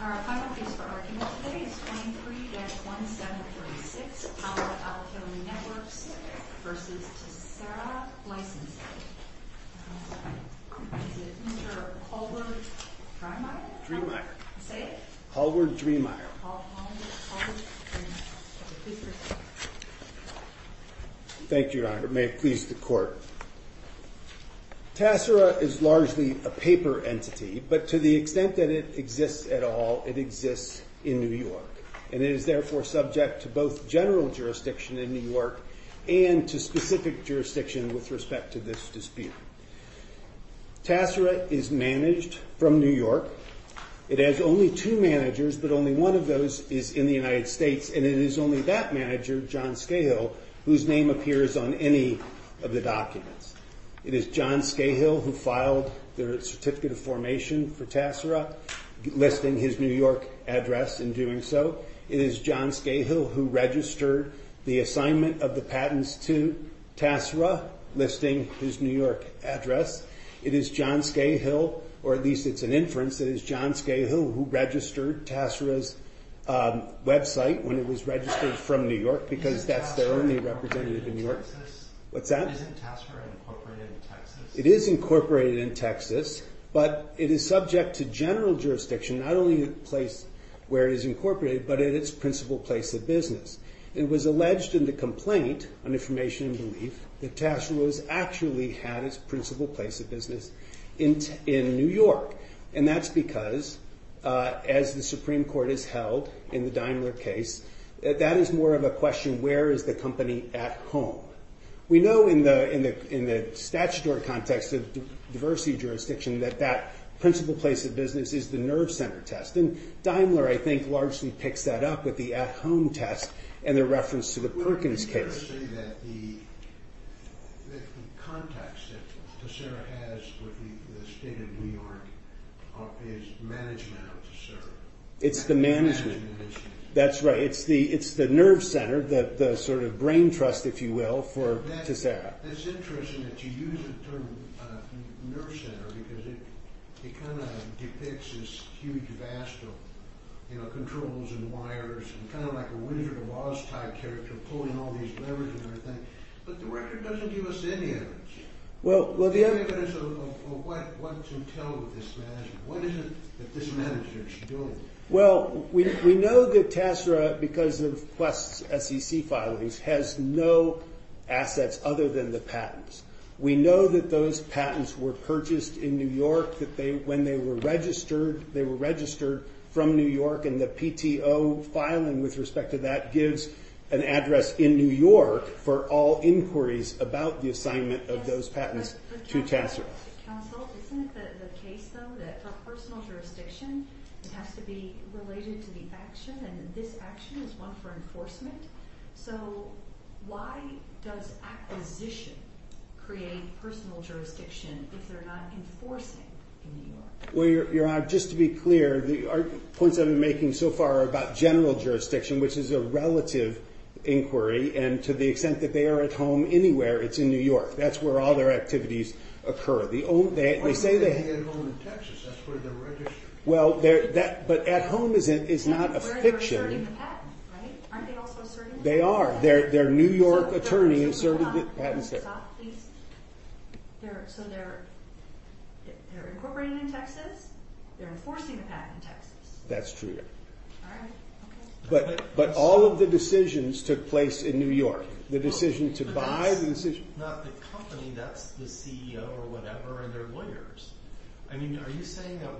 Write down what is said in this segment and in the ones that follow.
Our final case for argument today is 23-1736, Palo Alto Networks v. Taasera Licensing. Is it Mr. Hallward Dremeier? Dremeier. Say it. Hallward Dremeier. Hallward Dremeier. Please proceed. Thank you, Your Honor. May it please the Court. Taasera is largely a paper entity, but to the extent that it exists at all, it exists in New York, and it is therefore subject to both general jurisdiction in New York and to specific jurisdiction with respect to this dispute. Taasera is managed from New York. It has only two managers, but only one of those is in the United States, and it is only that manager, John Scahill, whose name appears on any of the documents. It is John Scahill who filed the certificate of formation for Taasera, listing his New York address in doing so. It is John Scahill who registered the assignment of the patents to Taasera, listing his New York address. It is John Scahill, or at least it's an inference, it is John Scahill who registered Taasera's website when it was registered from New York, because that's their only representative in New York. Isn't Taasera incorporated in Texas? It is incorporated in Texas, but it is subject to general jurisdiction not only at the place where it is incorporated, but at its principal place of business. It was alleged in the complaint on information and belief that Taasera actually had its principal place of business in New York, and that's because, as the Supreme Court has held in the Daimler case, that is more of a question, where is the company at home? We know in the statutory context of diversity jurisdiction that that principal place of business is the nerve center test, and Daimler, I think, largely picks that up with the at-home test and their reference to the Perkins case. The context that Taasera has with the state of New York is management of Taasera. It's the management. That's right, it's the nerve center, the sort of brain trust, if you will, for Taasera. It's interesting that you use the term nerve center because it kind of depicts this huge vast of controls and wires and kind of like a Winsor & Wos type character pulling all these levers and everything, but the record doesn't give us any evidence of what's entailed with this management. What is it that this management is doing? Well, we know that Taasera, because of Quest's SEC filings, has no assets other than the patents. We know that those patents were purchased in New York, that when they were registered, they were registered from New York, and the PTO filing with respect to that gives an address in New York for all inquiries about the assignment of those patents to Taasera. Counsel, isn't it the case, though, that for personal jurisdiction, it has to be related to the action, and this action is one for enforcement? So why does acquisition create personal jurisdiction if they're not enforcing in New York? Well, Your Honor, just to be clear, the points I've been making so far are about general jurisdiction, which is a relative inquiry, and to the extent that they are at home anywhere, it's in New York. That's where all their activities occur. Why are they staying at home in Texas? That's where they're registered. Well, but at home is not a fiction. They're serving the patent, right? Aren't they also serving the patent? They are. Their New York attorney is serving the patent. So they're incorporating in Texas? They're enforcing the patent in Texas? That's true, Your Honor. All right. Okay. But all of the decisions took place in New York. The decision to buy? Not the company. That's the CEO or whatever and their lawyers. I mean, are you saying that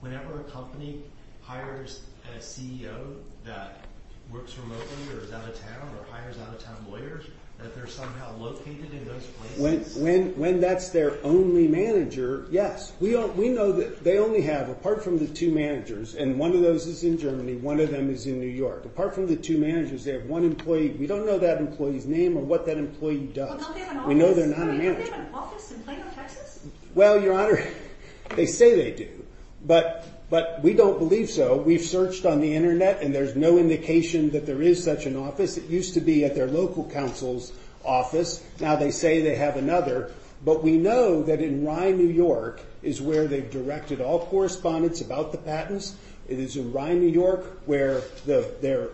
whenever a company hires a CEO that works remotely or is out of town or hires out-of-town lawyers, that they're somehow located in those places? When that's their only manager, yes. We know that they only have, apart from the two managers, and one of those is in Germany, one of them is in New York. Apart from the two managers, they have one employee. We don't know that employee's name or what that employee does. Well, don't they have an office? We know they're not a manager. Don't they have an office in Plano, Texas? Well, Your Honor, they say they do, but we don't believe so. We've searched on the Internet, and there's no indication that there is such an office. It used to be at their local counsel's office. Now they say they have another, but we know that in Rye, New York, is where they've directed all correspondence about the patents. It is in Rye, New York, where their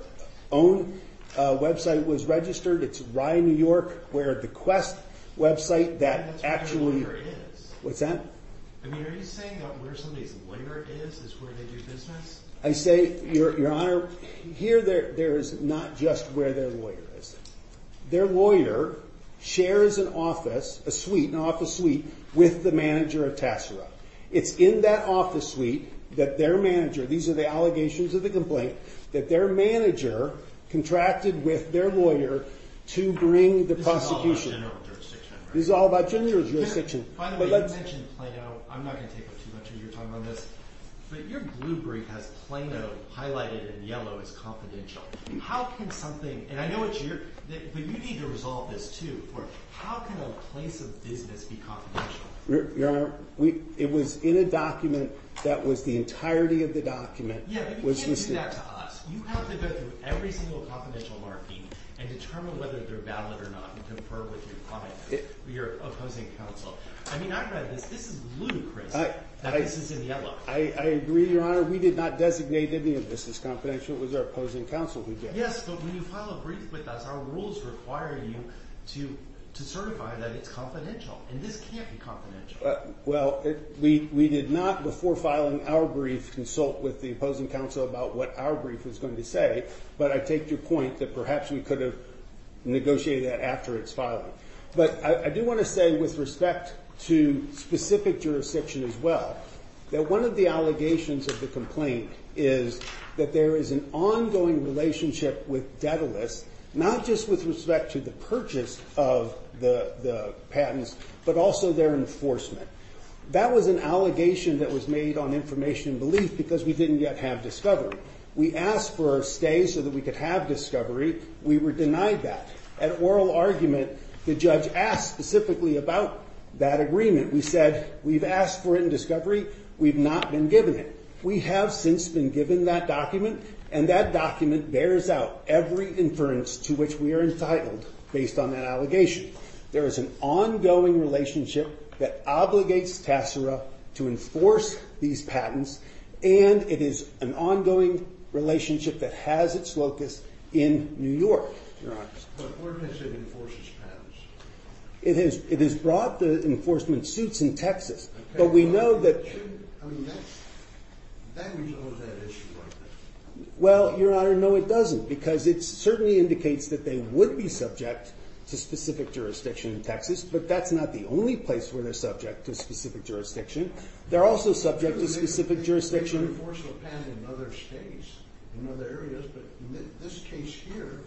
own website was registered. It's Rye, New York, where the Quest website that actually... That's where their lawyer is. What's that? I mean, are you saying that where somebody's lawyer is is where they do business? I say, Your Honor, here there is not just where their lawyer is. Their lawyer shares an office, a suite, an office suite, with the manager of Tassara. It's in that office suite that their manager, these are the allegations of the complaint, that their manager contracted with their lawyer to bring the prosecution. This is all about general jurisdiction, right? This is all about general jurisdiction. By the way, you mentioned Plano. I'm not going to take up too much of your time on this, but your blue brief has Plano highlighted in yellow as confidential. How can something... And I know it's your... But you need to resolve this, too. How can a place of business be confidential? Your Honor, it was in a document that was the entirety of the document. Yeah, but you can't do that to us. You have to go through every single confidential marquee and determine whether they're valid or not and confer with your client, your opposing counsel. I mean, I read this. This is ludicrous that this is in yellow. I agree, Your Honor. We did not designate any of this as confidential. It was our opposing counsel who did. Yes, but when you file a brief with us, our rules require you to certify that it's confidential, and this can't be confidential. Well, we did not before filing our brief consult with the opposing counsel about what our brief was going to say, but I take your point that perhaps we could have negotiated that after its filing. But I do want to say with respect to specific jurisdiction as well that one of the allegations of the complaint is that there is an ongoing relationship with Daedalus, not just with respect to the purchase of the patents but also their enforcement. That was an allegation that was made on information and belief because we didn't yet have discovery. We asked for a stay so that we could have discovery. We were denied that. At oral argument, the judge asked specifically about that agreement. We said we've asked for it in discovery. We've not been given it. We have since been given that document, and that document bears out every inference to which we are entitled based on that allegation. There is an ongoing relationship that obligates Tassara to enforce these patents, and it is an ongoing relationship that has its locus in New York, Your Honor. But where does it enforce its patents? It has brought the enforcement suits in Texas, but we know that that resolves that issue right there. Well, Your Honor, no, it doesn't, because it certainly indicates that they would be subject to specific jurisdiction in Texas, but that's not the only place where they're subject to specific jurisdiction. They're also subject to specific jurisdiction. They can enforce a patent in other states, in other areas, but in this case here,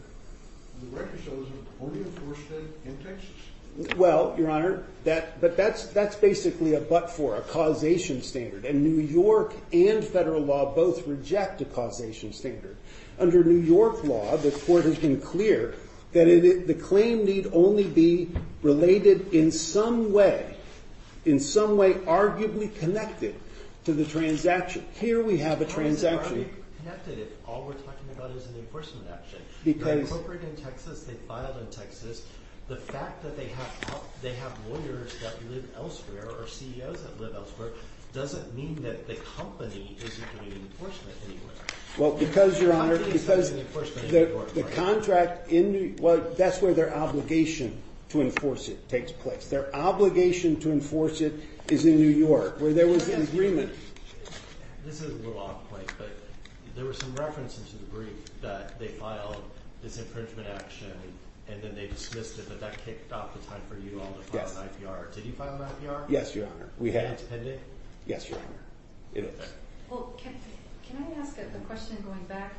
the record shows it only enforced it in Texas. Well, Your Honor, that's basically a but-for, a causation standard, and New York and federal law both reject a causation standard. Under New York law, the court has been clear that the claim need only be related in some way, in some way arguably connected to the transaction. Here we have a transaction. How is it arguably connected if all we're talking about is an enforcement action? They're incorporated in Texas. They filed in Texas. The fact that they have lawyers that live elsewhere or CEOs that live elsewhere doesn't mean that the company isn't doing enforcement anywhere. Well, because, Your Honor, because the contract in New York, well, that's where their obligation to enforce it takes place. Their obligation to enforce it is in New York, where there was an agreement. This is a little off point, but there were some references in the brief that they filed this infringement action and then they dismissed it, but that kicked off the time for you all to file an IPR. Did you file an IPR? Yes, Your Honor. Independent? Yes, Your Honor. Well, can I ask a question going back?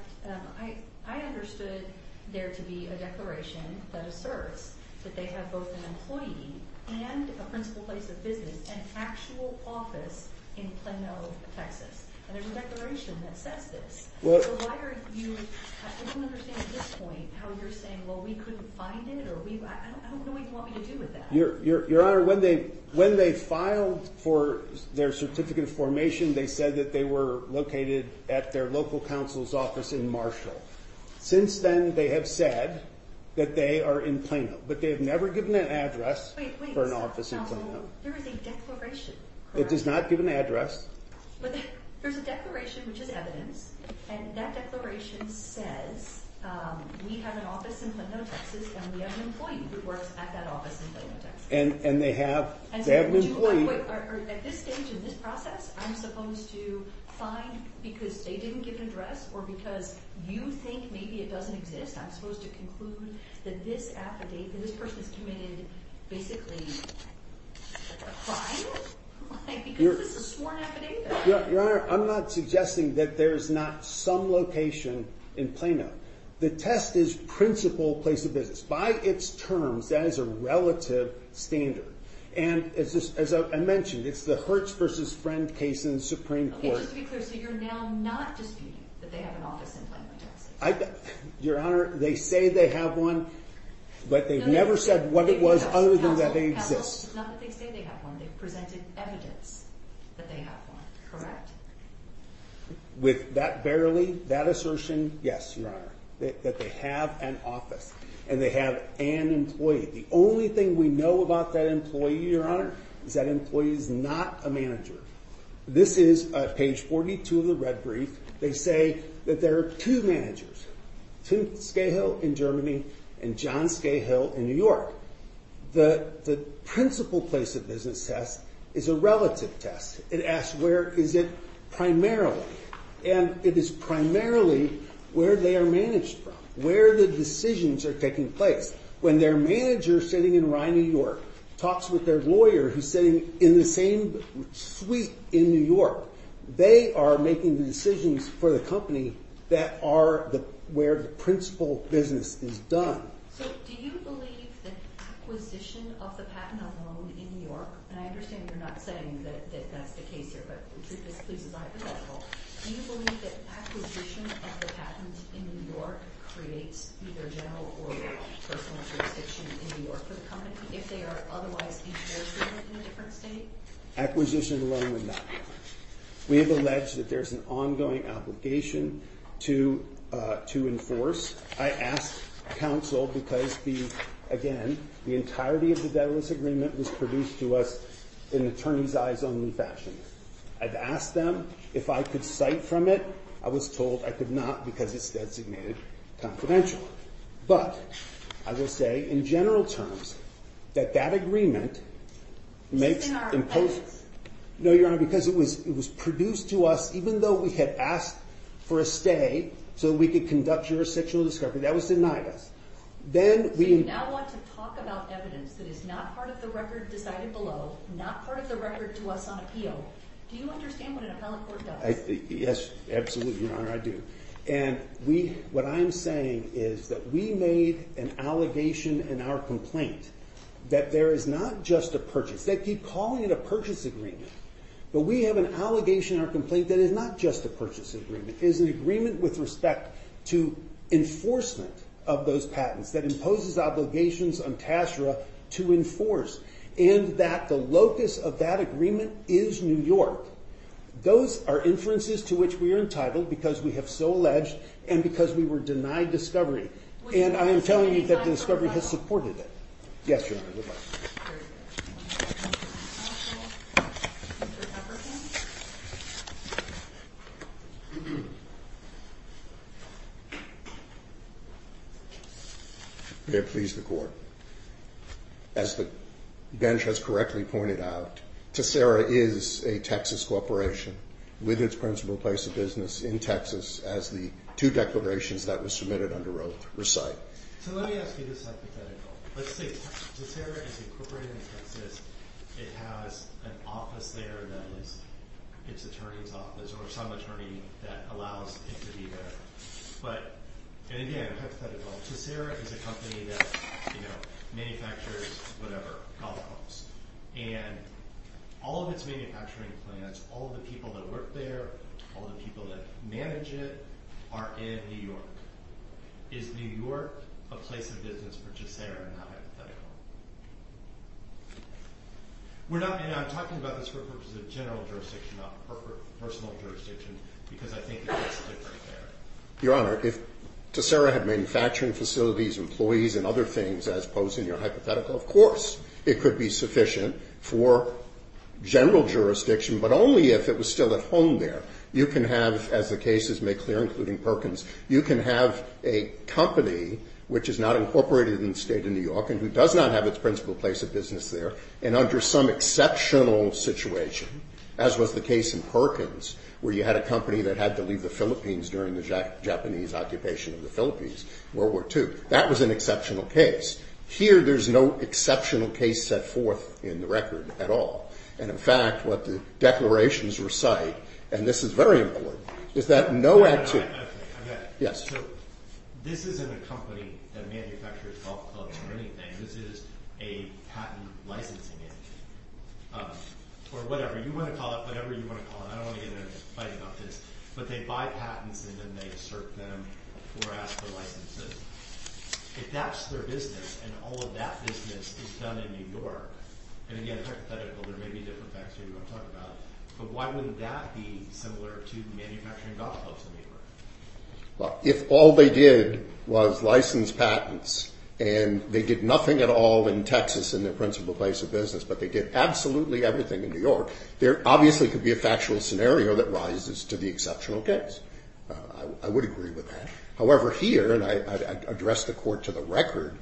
I understood there to be a declaration that asserts that they have both an employee and a principal place of business, an actual office in Plano, Texas. And there's a declaration that says this. So why are you, I don't understand at this point how you're saying, well, we couldn't find it or I don't know what you want me to do with that. Your Honor, when they filed for their certificate of formation, they said that they were located at their local counsel's office in Marshall. Since then, they have said that they are in Plano, but they have never given an address for an office in Plano. There is a declaration. It does not give an address. But there's a declaration, which is evidence, and that declaration says we have an office in Plano, Texas, and we have an employee who works at that office in Plano, Texas. And they have an employee. At this stage in this process, I'm supposed to find, because they didn't give an address or because you think maybe it doesn't exist, I'm supposed to conclude that this affidavit, this person's committed basically a crime? Because it's a sworn affidavit. Your Honor, I'm not suggesting that there's not some location in Plano. The test is principal place of business. By its terms, that is a relative standard. And as I mentioned, it's the Hertz v. Friend case in the Supreme Court. Just to be clear, so you're now not disputing that they have an office in Plano, Texas? Your Honor, they say they have one, but they've never said what it was other than that they exist. It's not that they say they have one. They've presented evidence that they have one, correct? With that barely, that assertion, yes, Your Honor, that they have an office and they have an employee. The only thing we know about that employee, Your Honor, is that employee is not a manager. This is page 42 of the red brief. They say that there are two managers, two, Scahill in Germany and John Scahill in New York. The principal place of business test is a relative test. It asks where is it primarily. And it is primarily where they are managed from, where the decisions are taking place. When their manager sitting in Rye, New York, talks with their lawyer who's sitting in the same suite in New York, they are making the decisions for the company that are where the principal business is done. So do you believe that acquisition of the patent alone in New York, and I understand you're not saying that that's the case here, but the truth is, please, is I have a double. Do you believe that acquisition of the patent in New York creates either general or personal jurisdiction in New York for the company if they are otherwise enforcing it in a different state? Acquisition alone would not be fine. We have alleged that there's an ongoing obligation to enforce. I asked counsel because the, again, the entirety of the Daedalus Agreement was produced to us in an attorney's eyes only fashion. I've asked them if I could cite from it. I was told I could not because it's designated confidential. But I will say in general terms that that agreement makes imposed. No, Your Honor, because it was produced to us, even though we had asked for a stay so we could conduct jurisdictional discovery, that was denied us. So you now want to talk about evidence that is not part of the record decided below, not part of the record to us on appeal. Do you understand what an appellate court does? Yes, absolutely, Your Honor, I do. And what I'm saying is that we made an allegation in our complaint that there is not just a purchase. They keep calling it a purchase agreement, but we have an allegation in our complaint that is not just a purchase agreement. It is an agreement with respect to enforcement of those patents that imposes obligations on TASRA to enforce and that the locus of that agreement is New York. Those are inferences to which we are entitled because we have so alleged and because we were denied discovery. And I am telling you that the discovery has supported it. Yes, Your Honor, goodbye. Mr. Pepperton? May it please the Court. As the bench has correctly pointed out, TASRA is a Texas corporation with its principal place of business in Texas as the two declarations that were submitted under oath recite. So let me ask you this hypothetical. Let's say TASRA is incorporated in Texas. It has an office there that is its attorney's office or some attorney that allows it to be there. But, and again, hypothetical, TASRA is a company that, you know, manufactures whatever, golf clubs. And all of its manufacturing plants, all of the people that work there, all of the people that manage it are in New York. Is New York a place of business for TASRA in that hypothetical? We're not, and I'm talking about this for the purpose of general jurisdiction, not personal jurisdiction, because I think it's different there. Your Honor, if TASRA had manufacturing facilities, employees and other things as posed in your hypothetical, of course it could be sufficient for general jurisdiction, but only if it was still at home there. You can have, as the cases make clear, including Perkins, you can have a company which is not incorporated in the State of New York and who does not have its principal place of business there, and under some exceptional situation, as was the case in Perkins, where you had a company that had to leave the Philippines during the Japanese occupation of the Philippines, World War II. That was an exceptional case. Here there's no exceptional case set forth in the record at all. And, in fact, what the declarations recite, and this is very important, is that no act to... This is a patent licensing agency, or whatever. You want to call it whatever you want to call it. I don't want to get into fighting about this. But they buy patents, and then they assert them or ask for licenses. If that's their business and all of that business is done in New York, and, again, a hypothetical, there may be different facts you want to talk about, but why wouldn't that be similar to manufacturing golf clubs in New York? Well, if all they did was license patents and they did nothing at all in Texas in their principal place of business, but they did absolutely everything in New York, there obviously could be a factual scenario that rises to the exceptional case. I would agree with that. However, here, and I address the court to the record,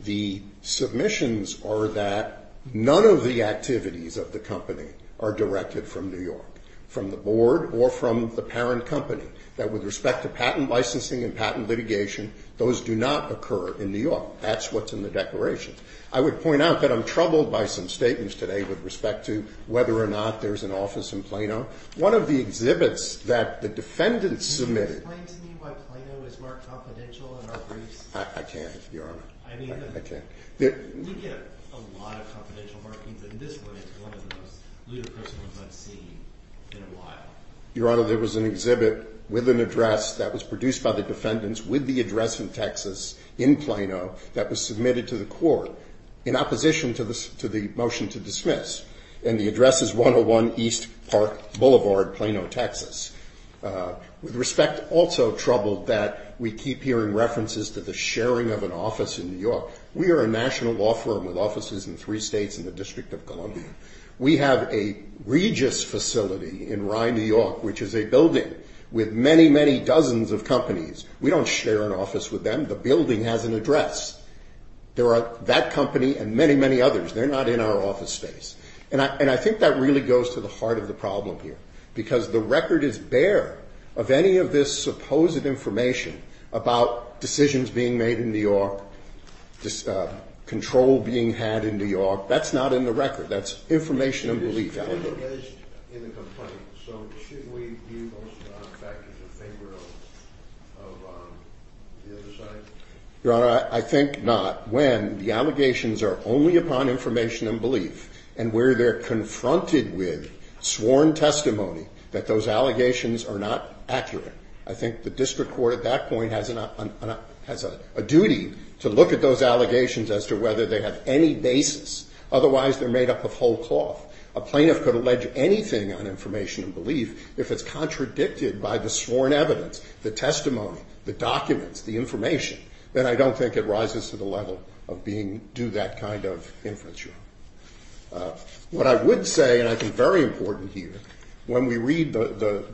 the submissions are that none of the activities of the company are directed from New York, from the board or from the parent company that with respect to patent licensing and patent litigation, those do not occur in New York. That's what's in the declaration. I would point out that I'm troubled by some statements today with respect to whether or not there's an office in Plano. One of the exhibits that the defendants submitted... Can you explain to me why Plano is marked confidential in our briefs? I can't, Your Honor. I can't. We get a lot of confidential markings, and this one is one of the most ludicrous ones I've seen in a while. Your Honor, there was an exhibit with an address that was produced by the defendants with the address in Texas in Plano that was submitted to the court in opposition to the motion to dismiss, and the address is 101 East Park Boulevard, Plano, Texas. With respect, also troubled that we keep hearing references to the sharing of an office in New York. We are a national law firm with offices in three states and the District of Columbia. We have a Regis facility in Rye, New York, which is a building with many, many dozens of companies. We don't share an office with them. The building has an address. There are that company and many, many others. They're not in our office space. And I think that really goes to the heart of the problem here because the record is bare of any of this supposed information about decisions being made in New York, control being had in New York. That's not in the record. That's information and belief. It's not based in the complaint. So shouldn't we view those factors a favor of the other side? Your Honor, I think not. When the allegations are only upon information and belief and where they're confronted with sworn testimony that those allegations are not accurate, I think the district court at that point has a duty to look at those allegations as to whether they have any basis otherwise they're made up of whole cloth. A plaintiff could allege anything on information and belief if it's contradicted by the sworn evidence, the testimony, the documents, the information, then I don't think it rises to the level of being due that kind of infringement. What I would say, and I think very important here, when we read the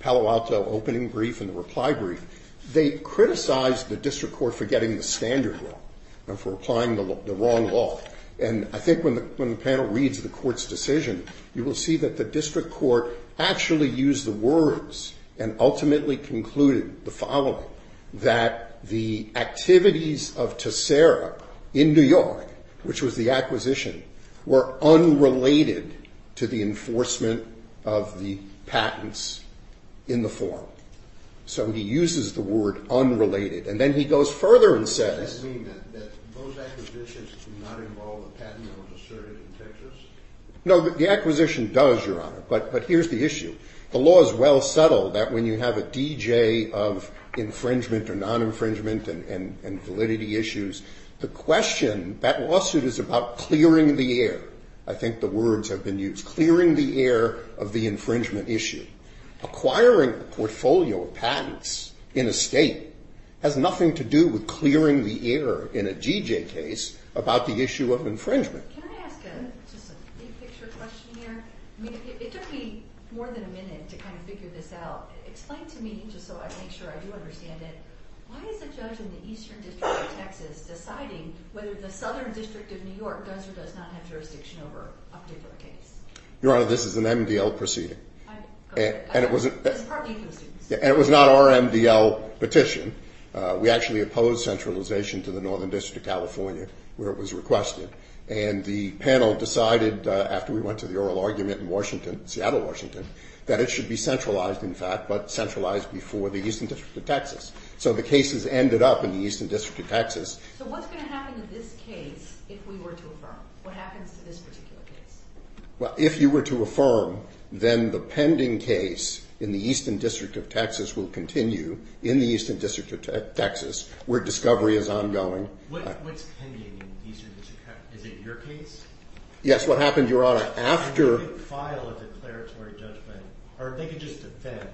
Palo Alto opening brief and the reply brief, they criticized the district court for getting the standard wrong and for applying the wrong law. And I think when the panel reads the court's decision, you will see that the district court actually used the words and ultimately concluded the following, that the activities of Tessera in New York, which was the acquisition, were unrelated to the enforcement of the patents in the form. So he uses the word unrelated, and then he goes further and says Does that mean that those acquisitions do not involve a patent that was asserted in Texas? No, the acquisition does, Your Honor, but here's the issue. The law is well settled that when you have a DJ of infringement or non-infringement and validity issues, the question, that lawsuit is about clearing the air, I think the words have been used, clearing the air of the infringement issue. Acquiring a portfolio of patents in a state has nothing to do with clearing the air in a DJ case about the issue of infringement. Can I ask just a big picture question here? I mean, it took me more than a minute to kind of figure this out. Explain to me, just so I make sure I do understand it, why is a judge in the eastern district of Texas deciding whether the southern district of New York does or does not have jurisdiction over a particular case? Your Honor, this is an MDL proceeding. And it was not our MDL petition. We actually opposed centralization to the northern district of California where it was requested. And the panel decided after we went to the oral argument in Washington, Seattle, Washington, that it should be centralized, in fact, but centralized before the eastern district of Texas. So the cases ended up in the eastern district of Texas. So what's going to happen to this case if we were to affirm? What happens to this particular case? Well, if you were to affirm, then the pending case in the eastern district of Texas will continue in the eastern district of Texas where discovery is ongoing. What's pending in the eastern district of Texas? Is it your case? Yes. What happened, Your Honor? They could file a declaratory judgment. Or they could just defend.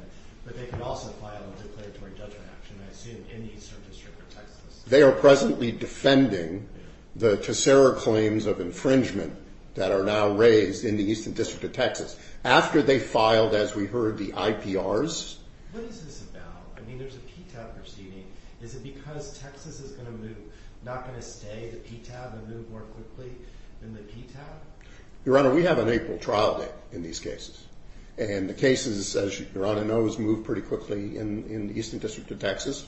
But they could also file a declaratory judgment action, I assume, in the eastern district of Texas. They are presently defending the CSERA claims of infringement that are now raised in the eastern district of Texas. After they filed, as we heard, the IPRs. What is this about? I mean, there's a PTAB proceeding. Is it because Texas is not going to stay the PTAB and move more quickly than the PTAB? Your Honor, we have an April trial date in these cases. And the cases, as Your Honor knows, move pretty quickly in the eastern district of Texas.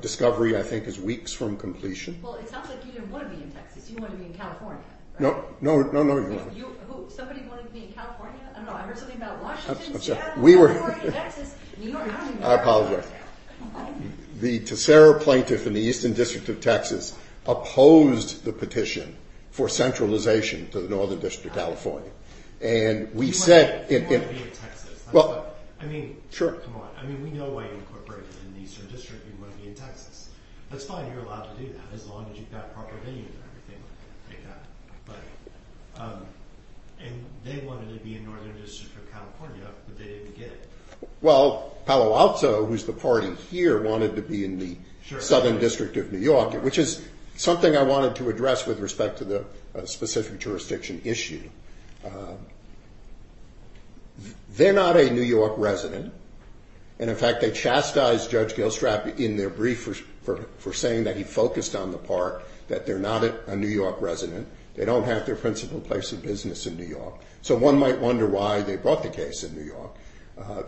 Discovery, I think, is weeks from completion. Well, it sounds like you didn't want to be in Texas. You wanted to be in California, right? No, no, no, Your Honor. Somebody wanted to be in California? I don't know. I heard something about Washington, Seattle, California, Texas. New York, I don't even know. I apologize. The CSERA plaintiff in the eastern district of Texas opposed the petition for centralization to the northern district of California. And we said in the – You want to be in Texas. I mean, come on. I mean, we know why you incorporated in the eastern district. You want to be in Texas. That's fine. You're allowed to do that as long as you've got proper venues and everything like that. And they wanted to be in northern district of California, but they didn't get it. Well, Palo Alto, who's the party here, wanted to be in the southern district of New York, which is something I wanted to address with respect to the specific jurisdiction issue. They're not a New York resident. And, in fact, they chastised Judge Gilstrap in their brief for saying that he focused on the part that they're not a New York resident. They don't have their principal place of business in New York. So one might wonder why they brought the case in New York.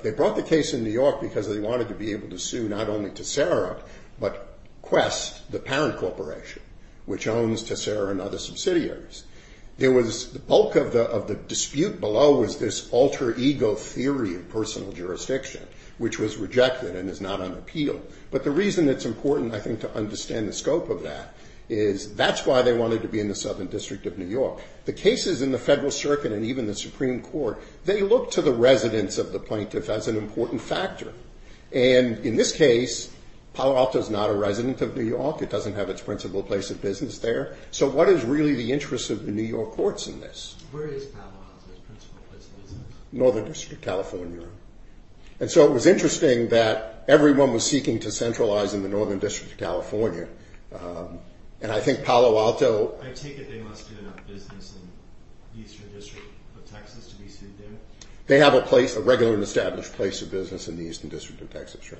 They brought the case in New York because they wanted to be able to sue not only to CSERA, but Quest, the parent corporation, which owns CSERA and other subsidiaries. There was the bulk of the dispute below was this alter ego theory of personal jurisdiction, which was rejected and is not on appeal. But the reason it's important, I think, to understand the scope of that is that's why they wanted to be in the southern district of New York. The cases in the Federal Circuit and even the Supreme Court, they look to the residence of the plaintiff as an important factor. And, in this case, Palo Alto is not a resident of New York. It doesn't have its principal place of business there. So what is really the interest of the New York courts in this? Where is Palo Alto's principal place of business? Northern District, California. And so it was interesting that everyone was seeking to centralize in the northern district of California. And I think Palo Alto... I take it they must do enough business in the eastern district of Texas to be sued there? They have a place, a regular and established place of business in the eastern district of Texas, sure.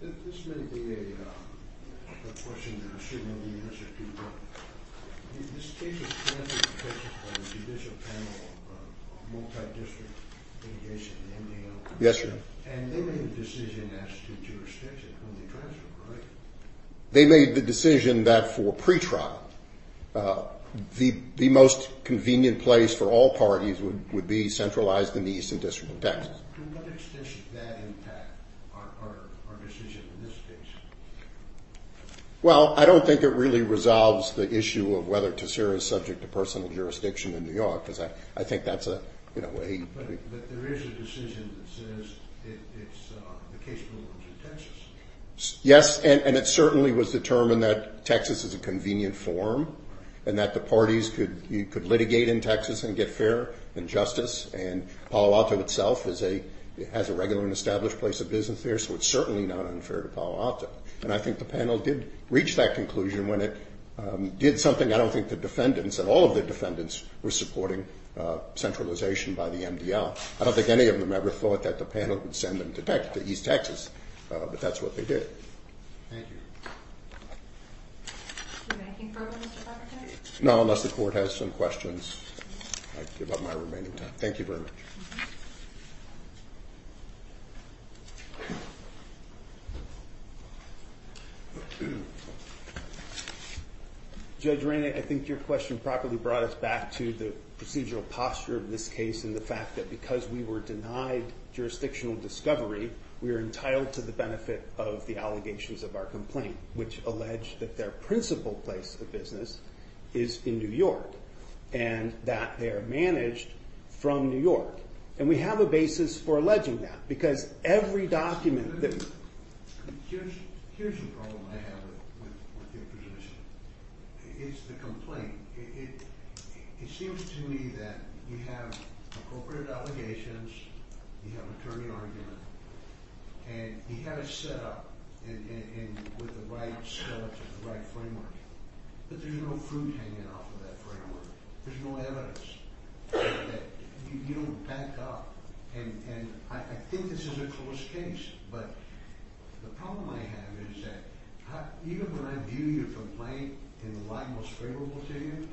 This may be a question that I shouldn't be answering to you, but in this case, the plaintiff is presented by the judicial panel of multi-district litigation, MDL. Yes, sir. And they made the decision as to jurisdiction when they transferred, right? They made the decision that, for pretrial, the most convenient place for all parties would be centralized in the eastern district of Texas. To what extent should that impact our decision in this case? Well, I don't think it really resolves the issue of whether Tessera is subject to personal jurisdiction in New York, because I think that's a way... But there is a decision that says the case belongs to Texas. Yes, and it certainly was determined that Texas is a convenient forum and that the parties could litigate in Texas and get fair and justice. And Palo Alto itself has a regular and established place of business there, so it's certainly not unfair to Palo Alto. And I think the panel did reach that conclusion when it did something I don't think the defendants and all of the defendants were supporting, centralization by the MDL. I don't think any of them ever thought that the panel would send them to East Texas, but that's what they did. Thank you. Is there anything further, Mr. Bacote? No, unless the court has some questions, I give up my remaining time. Thank you very much. Judge Rainey, I think your question properly brought us back to the procedural posture of this case and the fact that because we were denied jurisdictional discovery, we are entitled to the benefit of the allegations of our complaint, which allege that their principal place of business is in New York and that they are managed from New York. And we have a basis for alleging that because every document that... Here's the problem I have with your position. It's the complaint. It seems to me that you have appropriate allegations, you have attorney argument, and you have it set up with the right framework, but there's no fruit hanging off of that framework. There's no evidence. You don't back up, and I think this is a close case, but the problem I have is that even when I view your complaint in the light most favorable to you,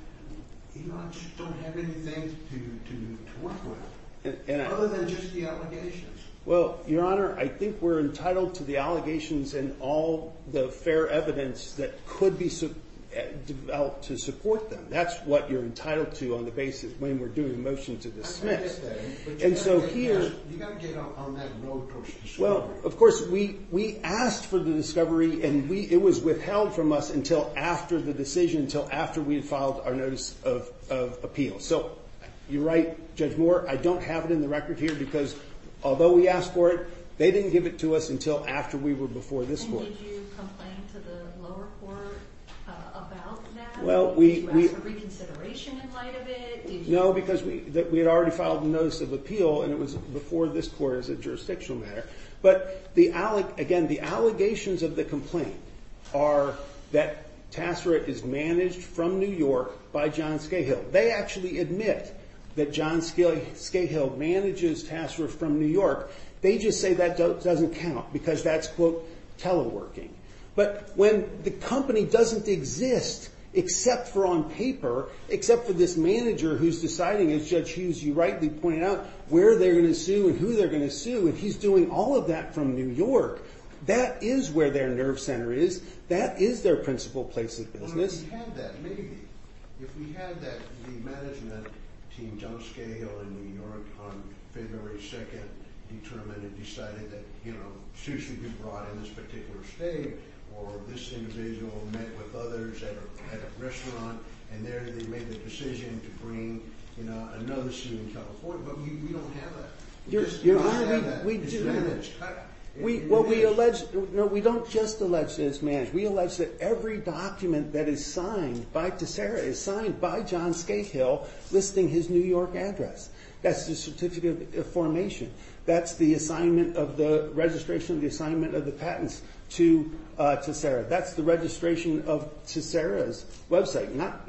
you just don't have anything to work with, other than just the allegations. Well, Your Honor, I think we're entitled to the allegations and all the fair evidence that could be developed to support them. That's what you're entitled to on the basis when we're doing a motion to dismiss. And so here... You got to get on that note of discovery. Well, of course, we asked for the discovery, and it was withheld from us until after the decision, until after we had filed our notice of appeal. So you're right, Judge Moore, I don't have it in the record here because although we asked for it, they didn't give it to us until after we were before this court. And did you complain to the lower court about that? Well, we... Did you ask for reconsideration in light of it? No, because we had already filed the notice of appeal, and it was before this court as a jurisdictional matter. But, again, the allegations of the complaint are that Tassarich is managed from New York by John Scahill. They actually admit that John Scahill manages Tassarich from New York. They just say that doesn't count because that's, quote, teleworking. But when the company doesn't exist except for on paper, except for this manager who's deciding, as Judge Hughes, you rightly pointed out, where they're going to sue and who they're going to sue, and he's doing all of that from New York, that is where their nerve center is. That is their principal place of business. If we had that, maybe. If we had that, the management team, John Scahill in New York on February 2nd, determined and decided that, you know, sue should be brought in this particular state, or this individual met with others at a restaurant, and there they made the decision to bring another suit in California. But we don't have that. We just don't have that. It's managed. Well, we allege... No, we don't just allege that it's managed. We allege that every document that is signed by Tessera is signed by John Scahill listing his New York address. That's the certificate of formation. That's the registration of the assignment of the patents to Tessera. That's the registration of Tessera's website, not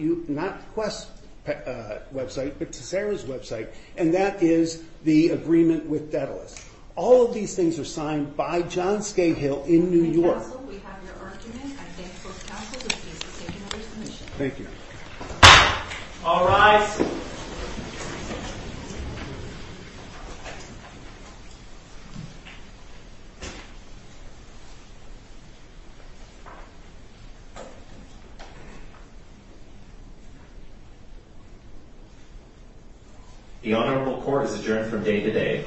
Quest's website, but Tessera's website, and that is the agreement with Daedalus. All of these things are signed by John Scahill in New York. Counsel, we have your argument. I thank both counsels. This case is taken under submission. Thank you. All rise. The Honorable Court is adjourned from day to day. Thank you. And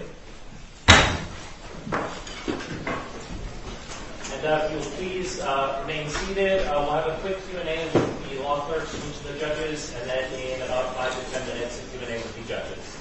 if you'll please remain seated, we'll have a quick Q&A with the law clerks and the judges, and then in about 5 to 10 minutes, a Q&A with the judges.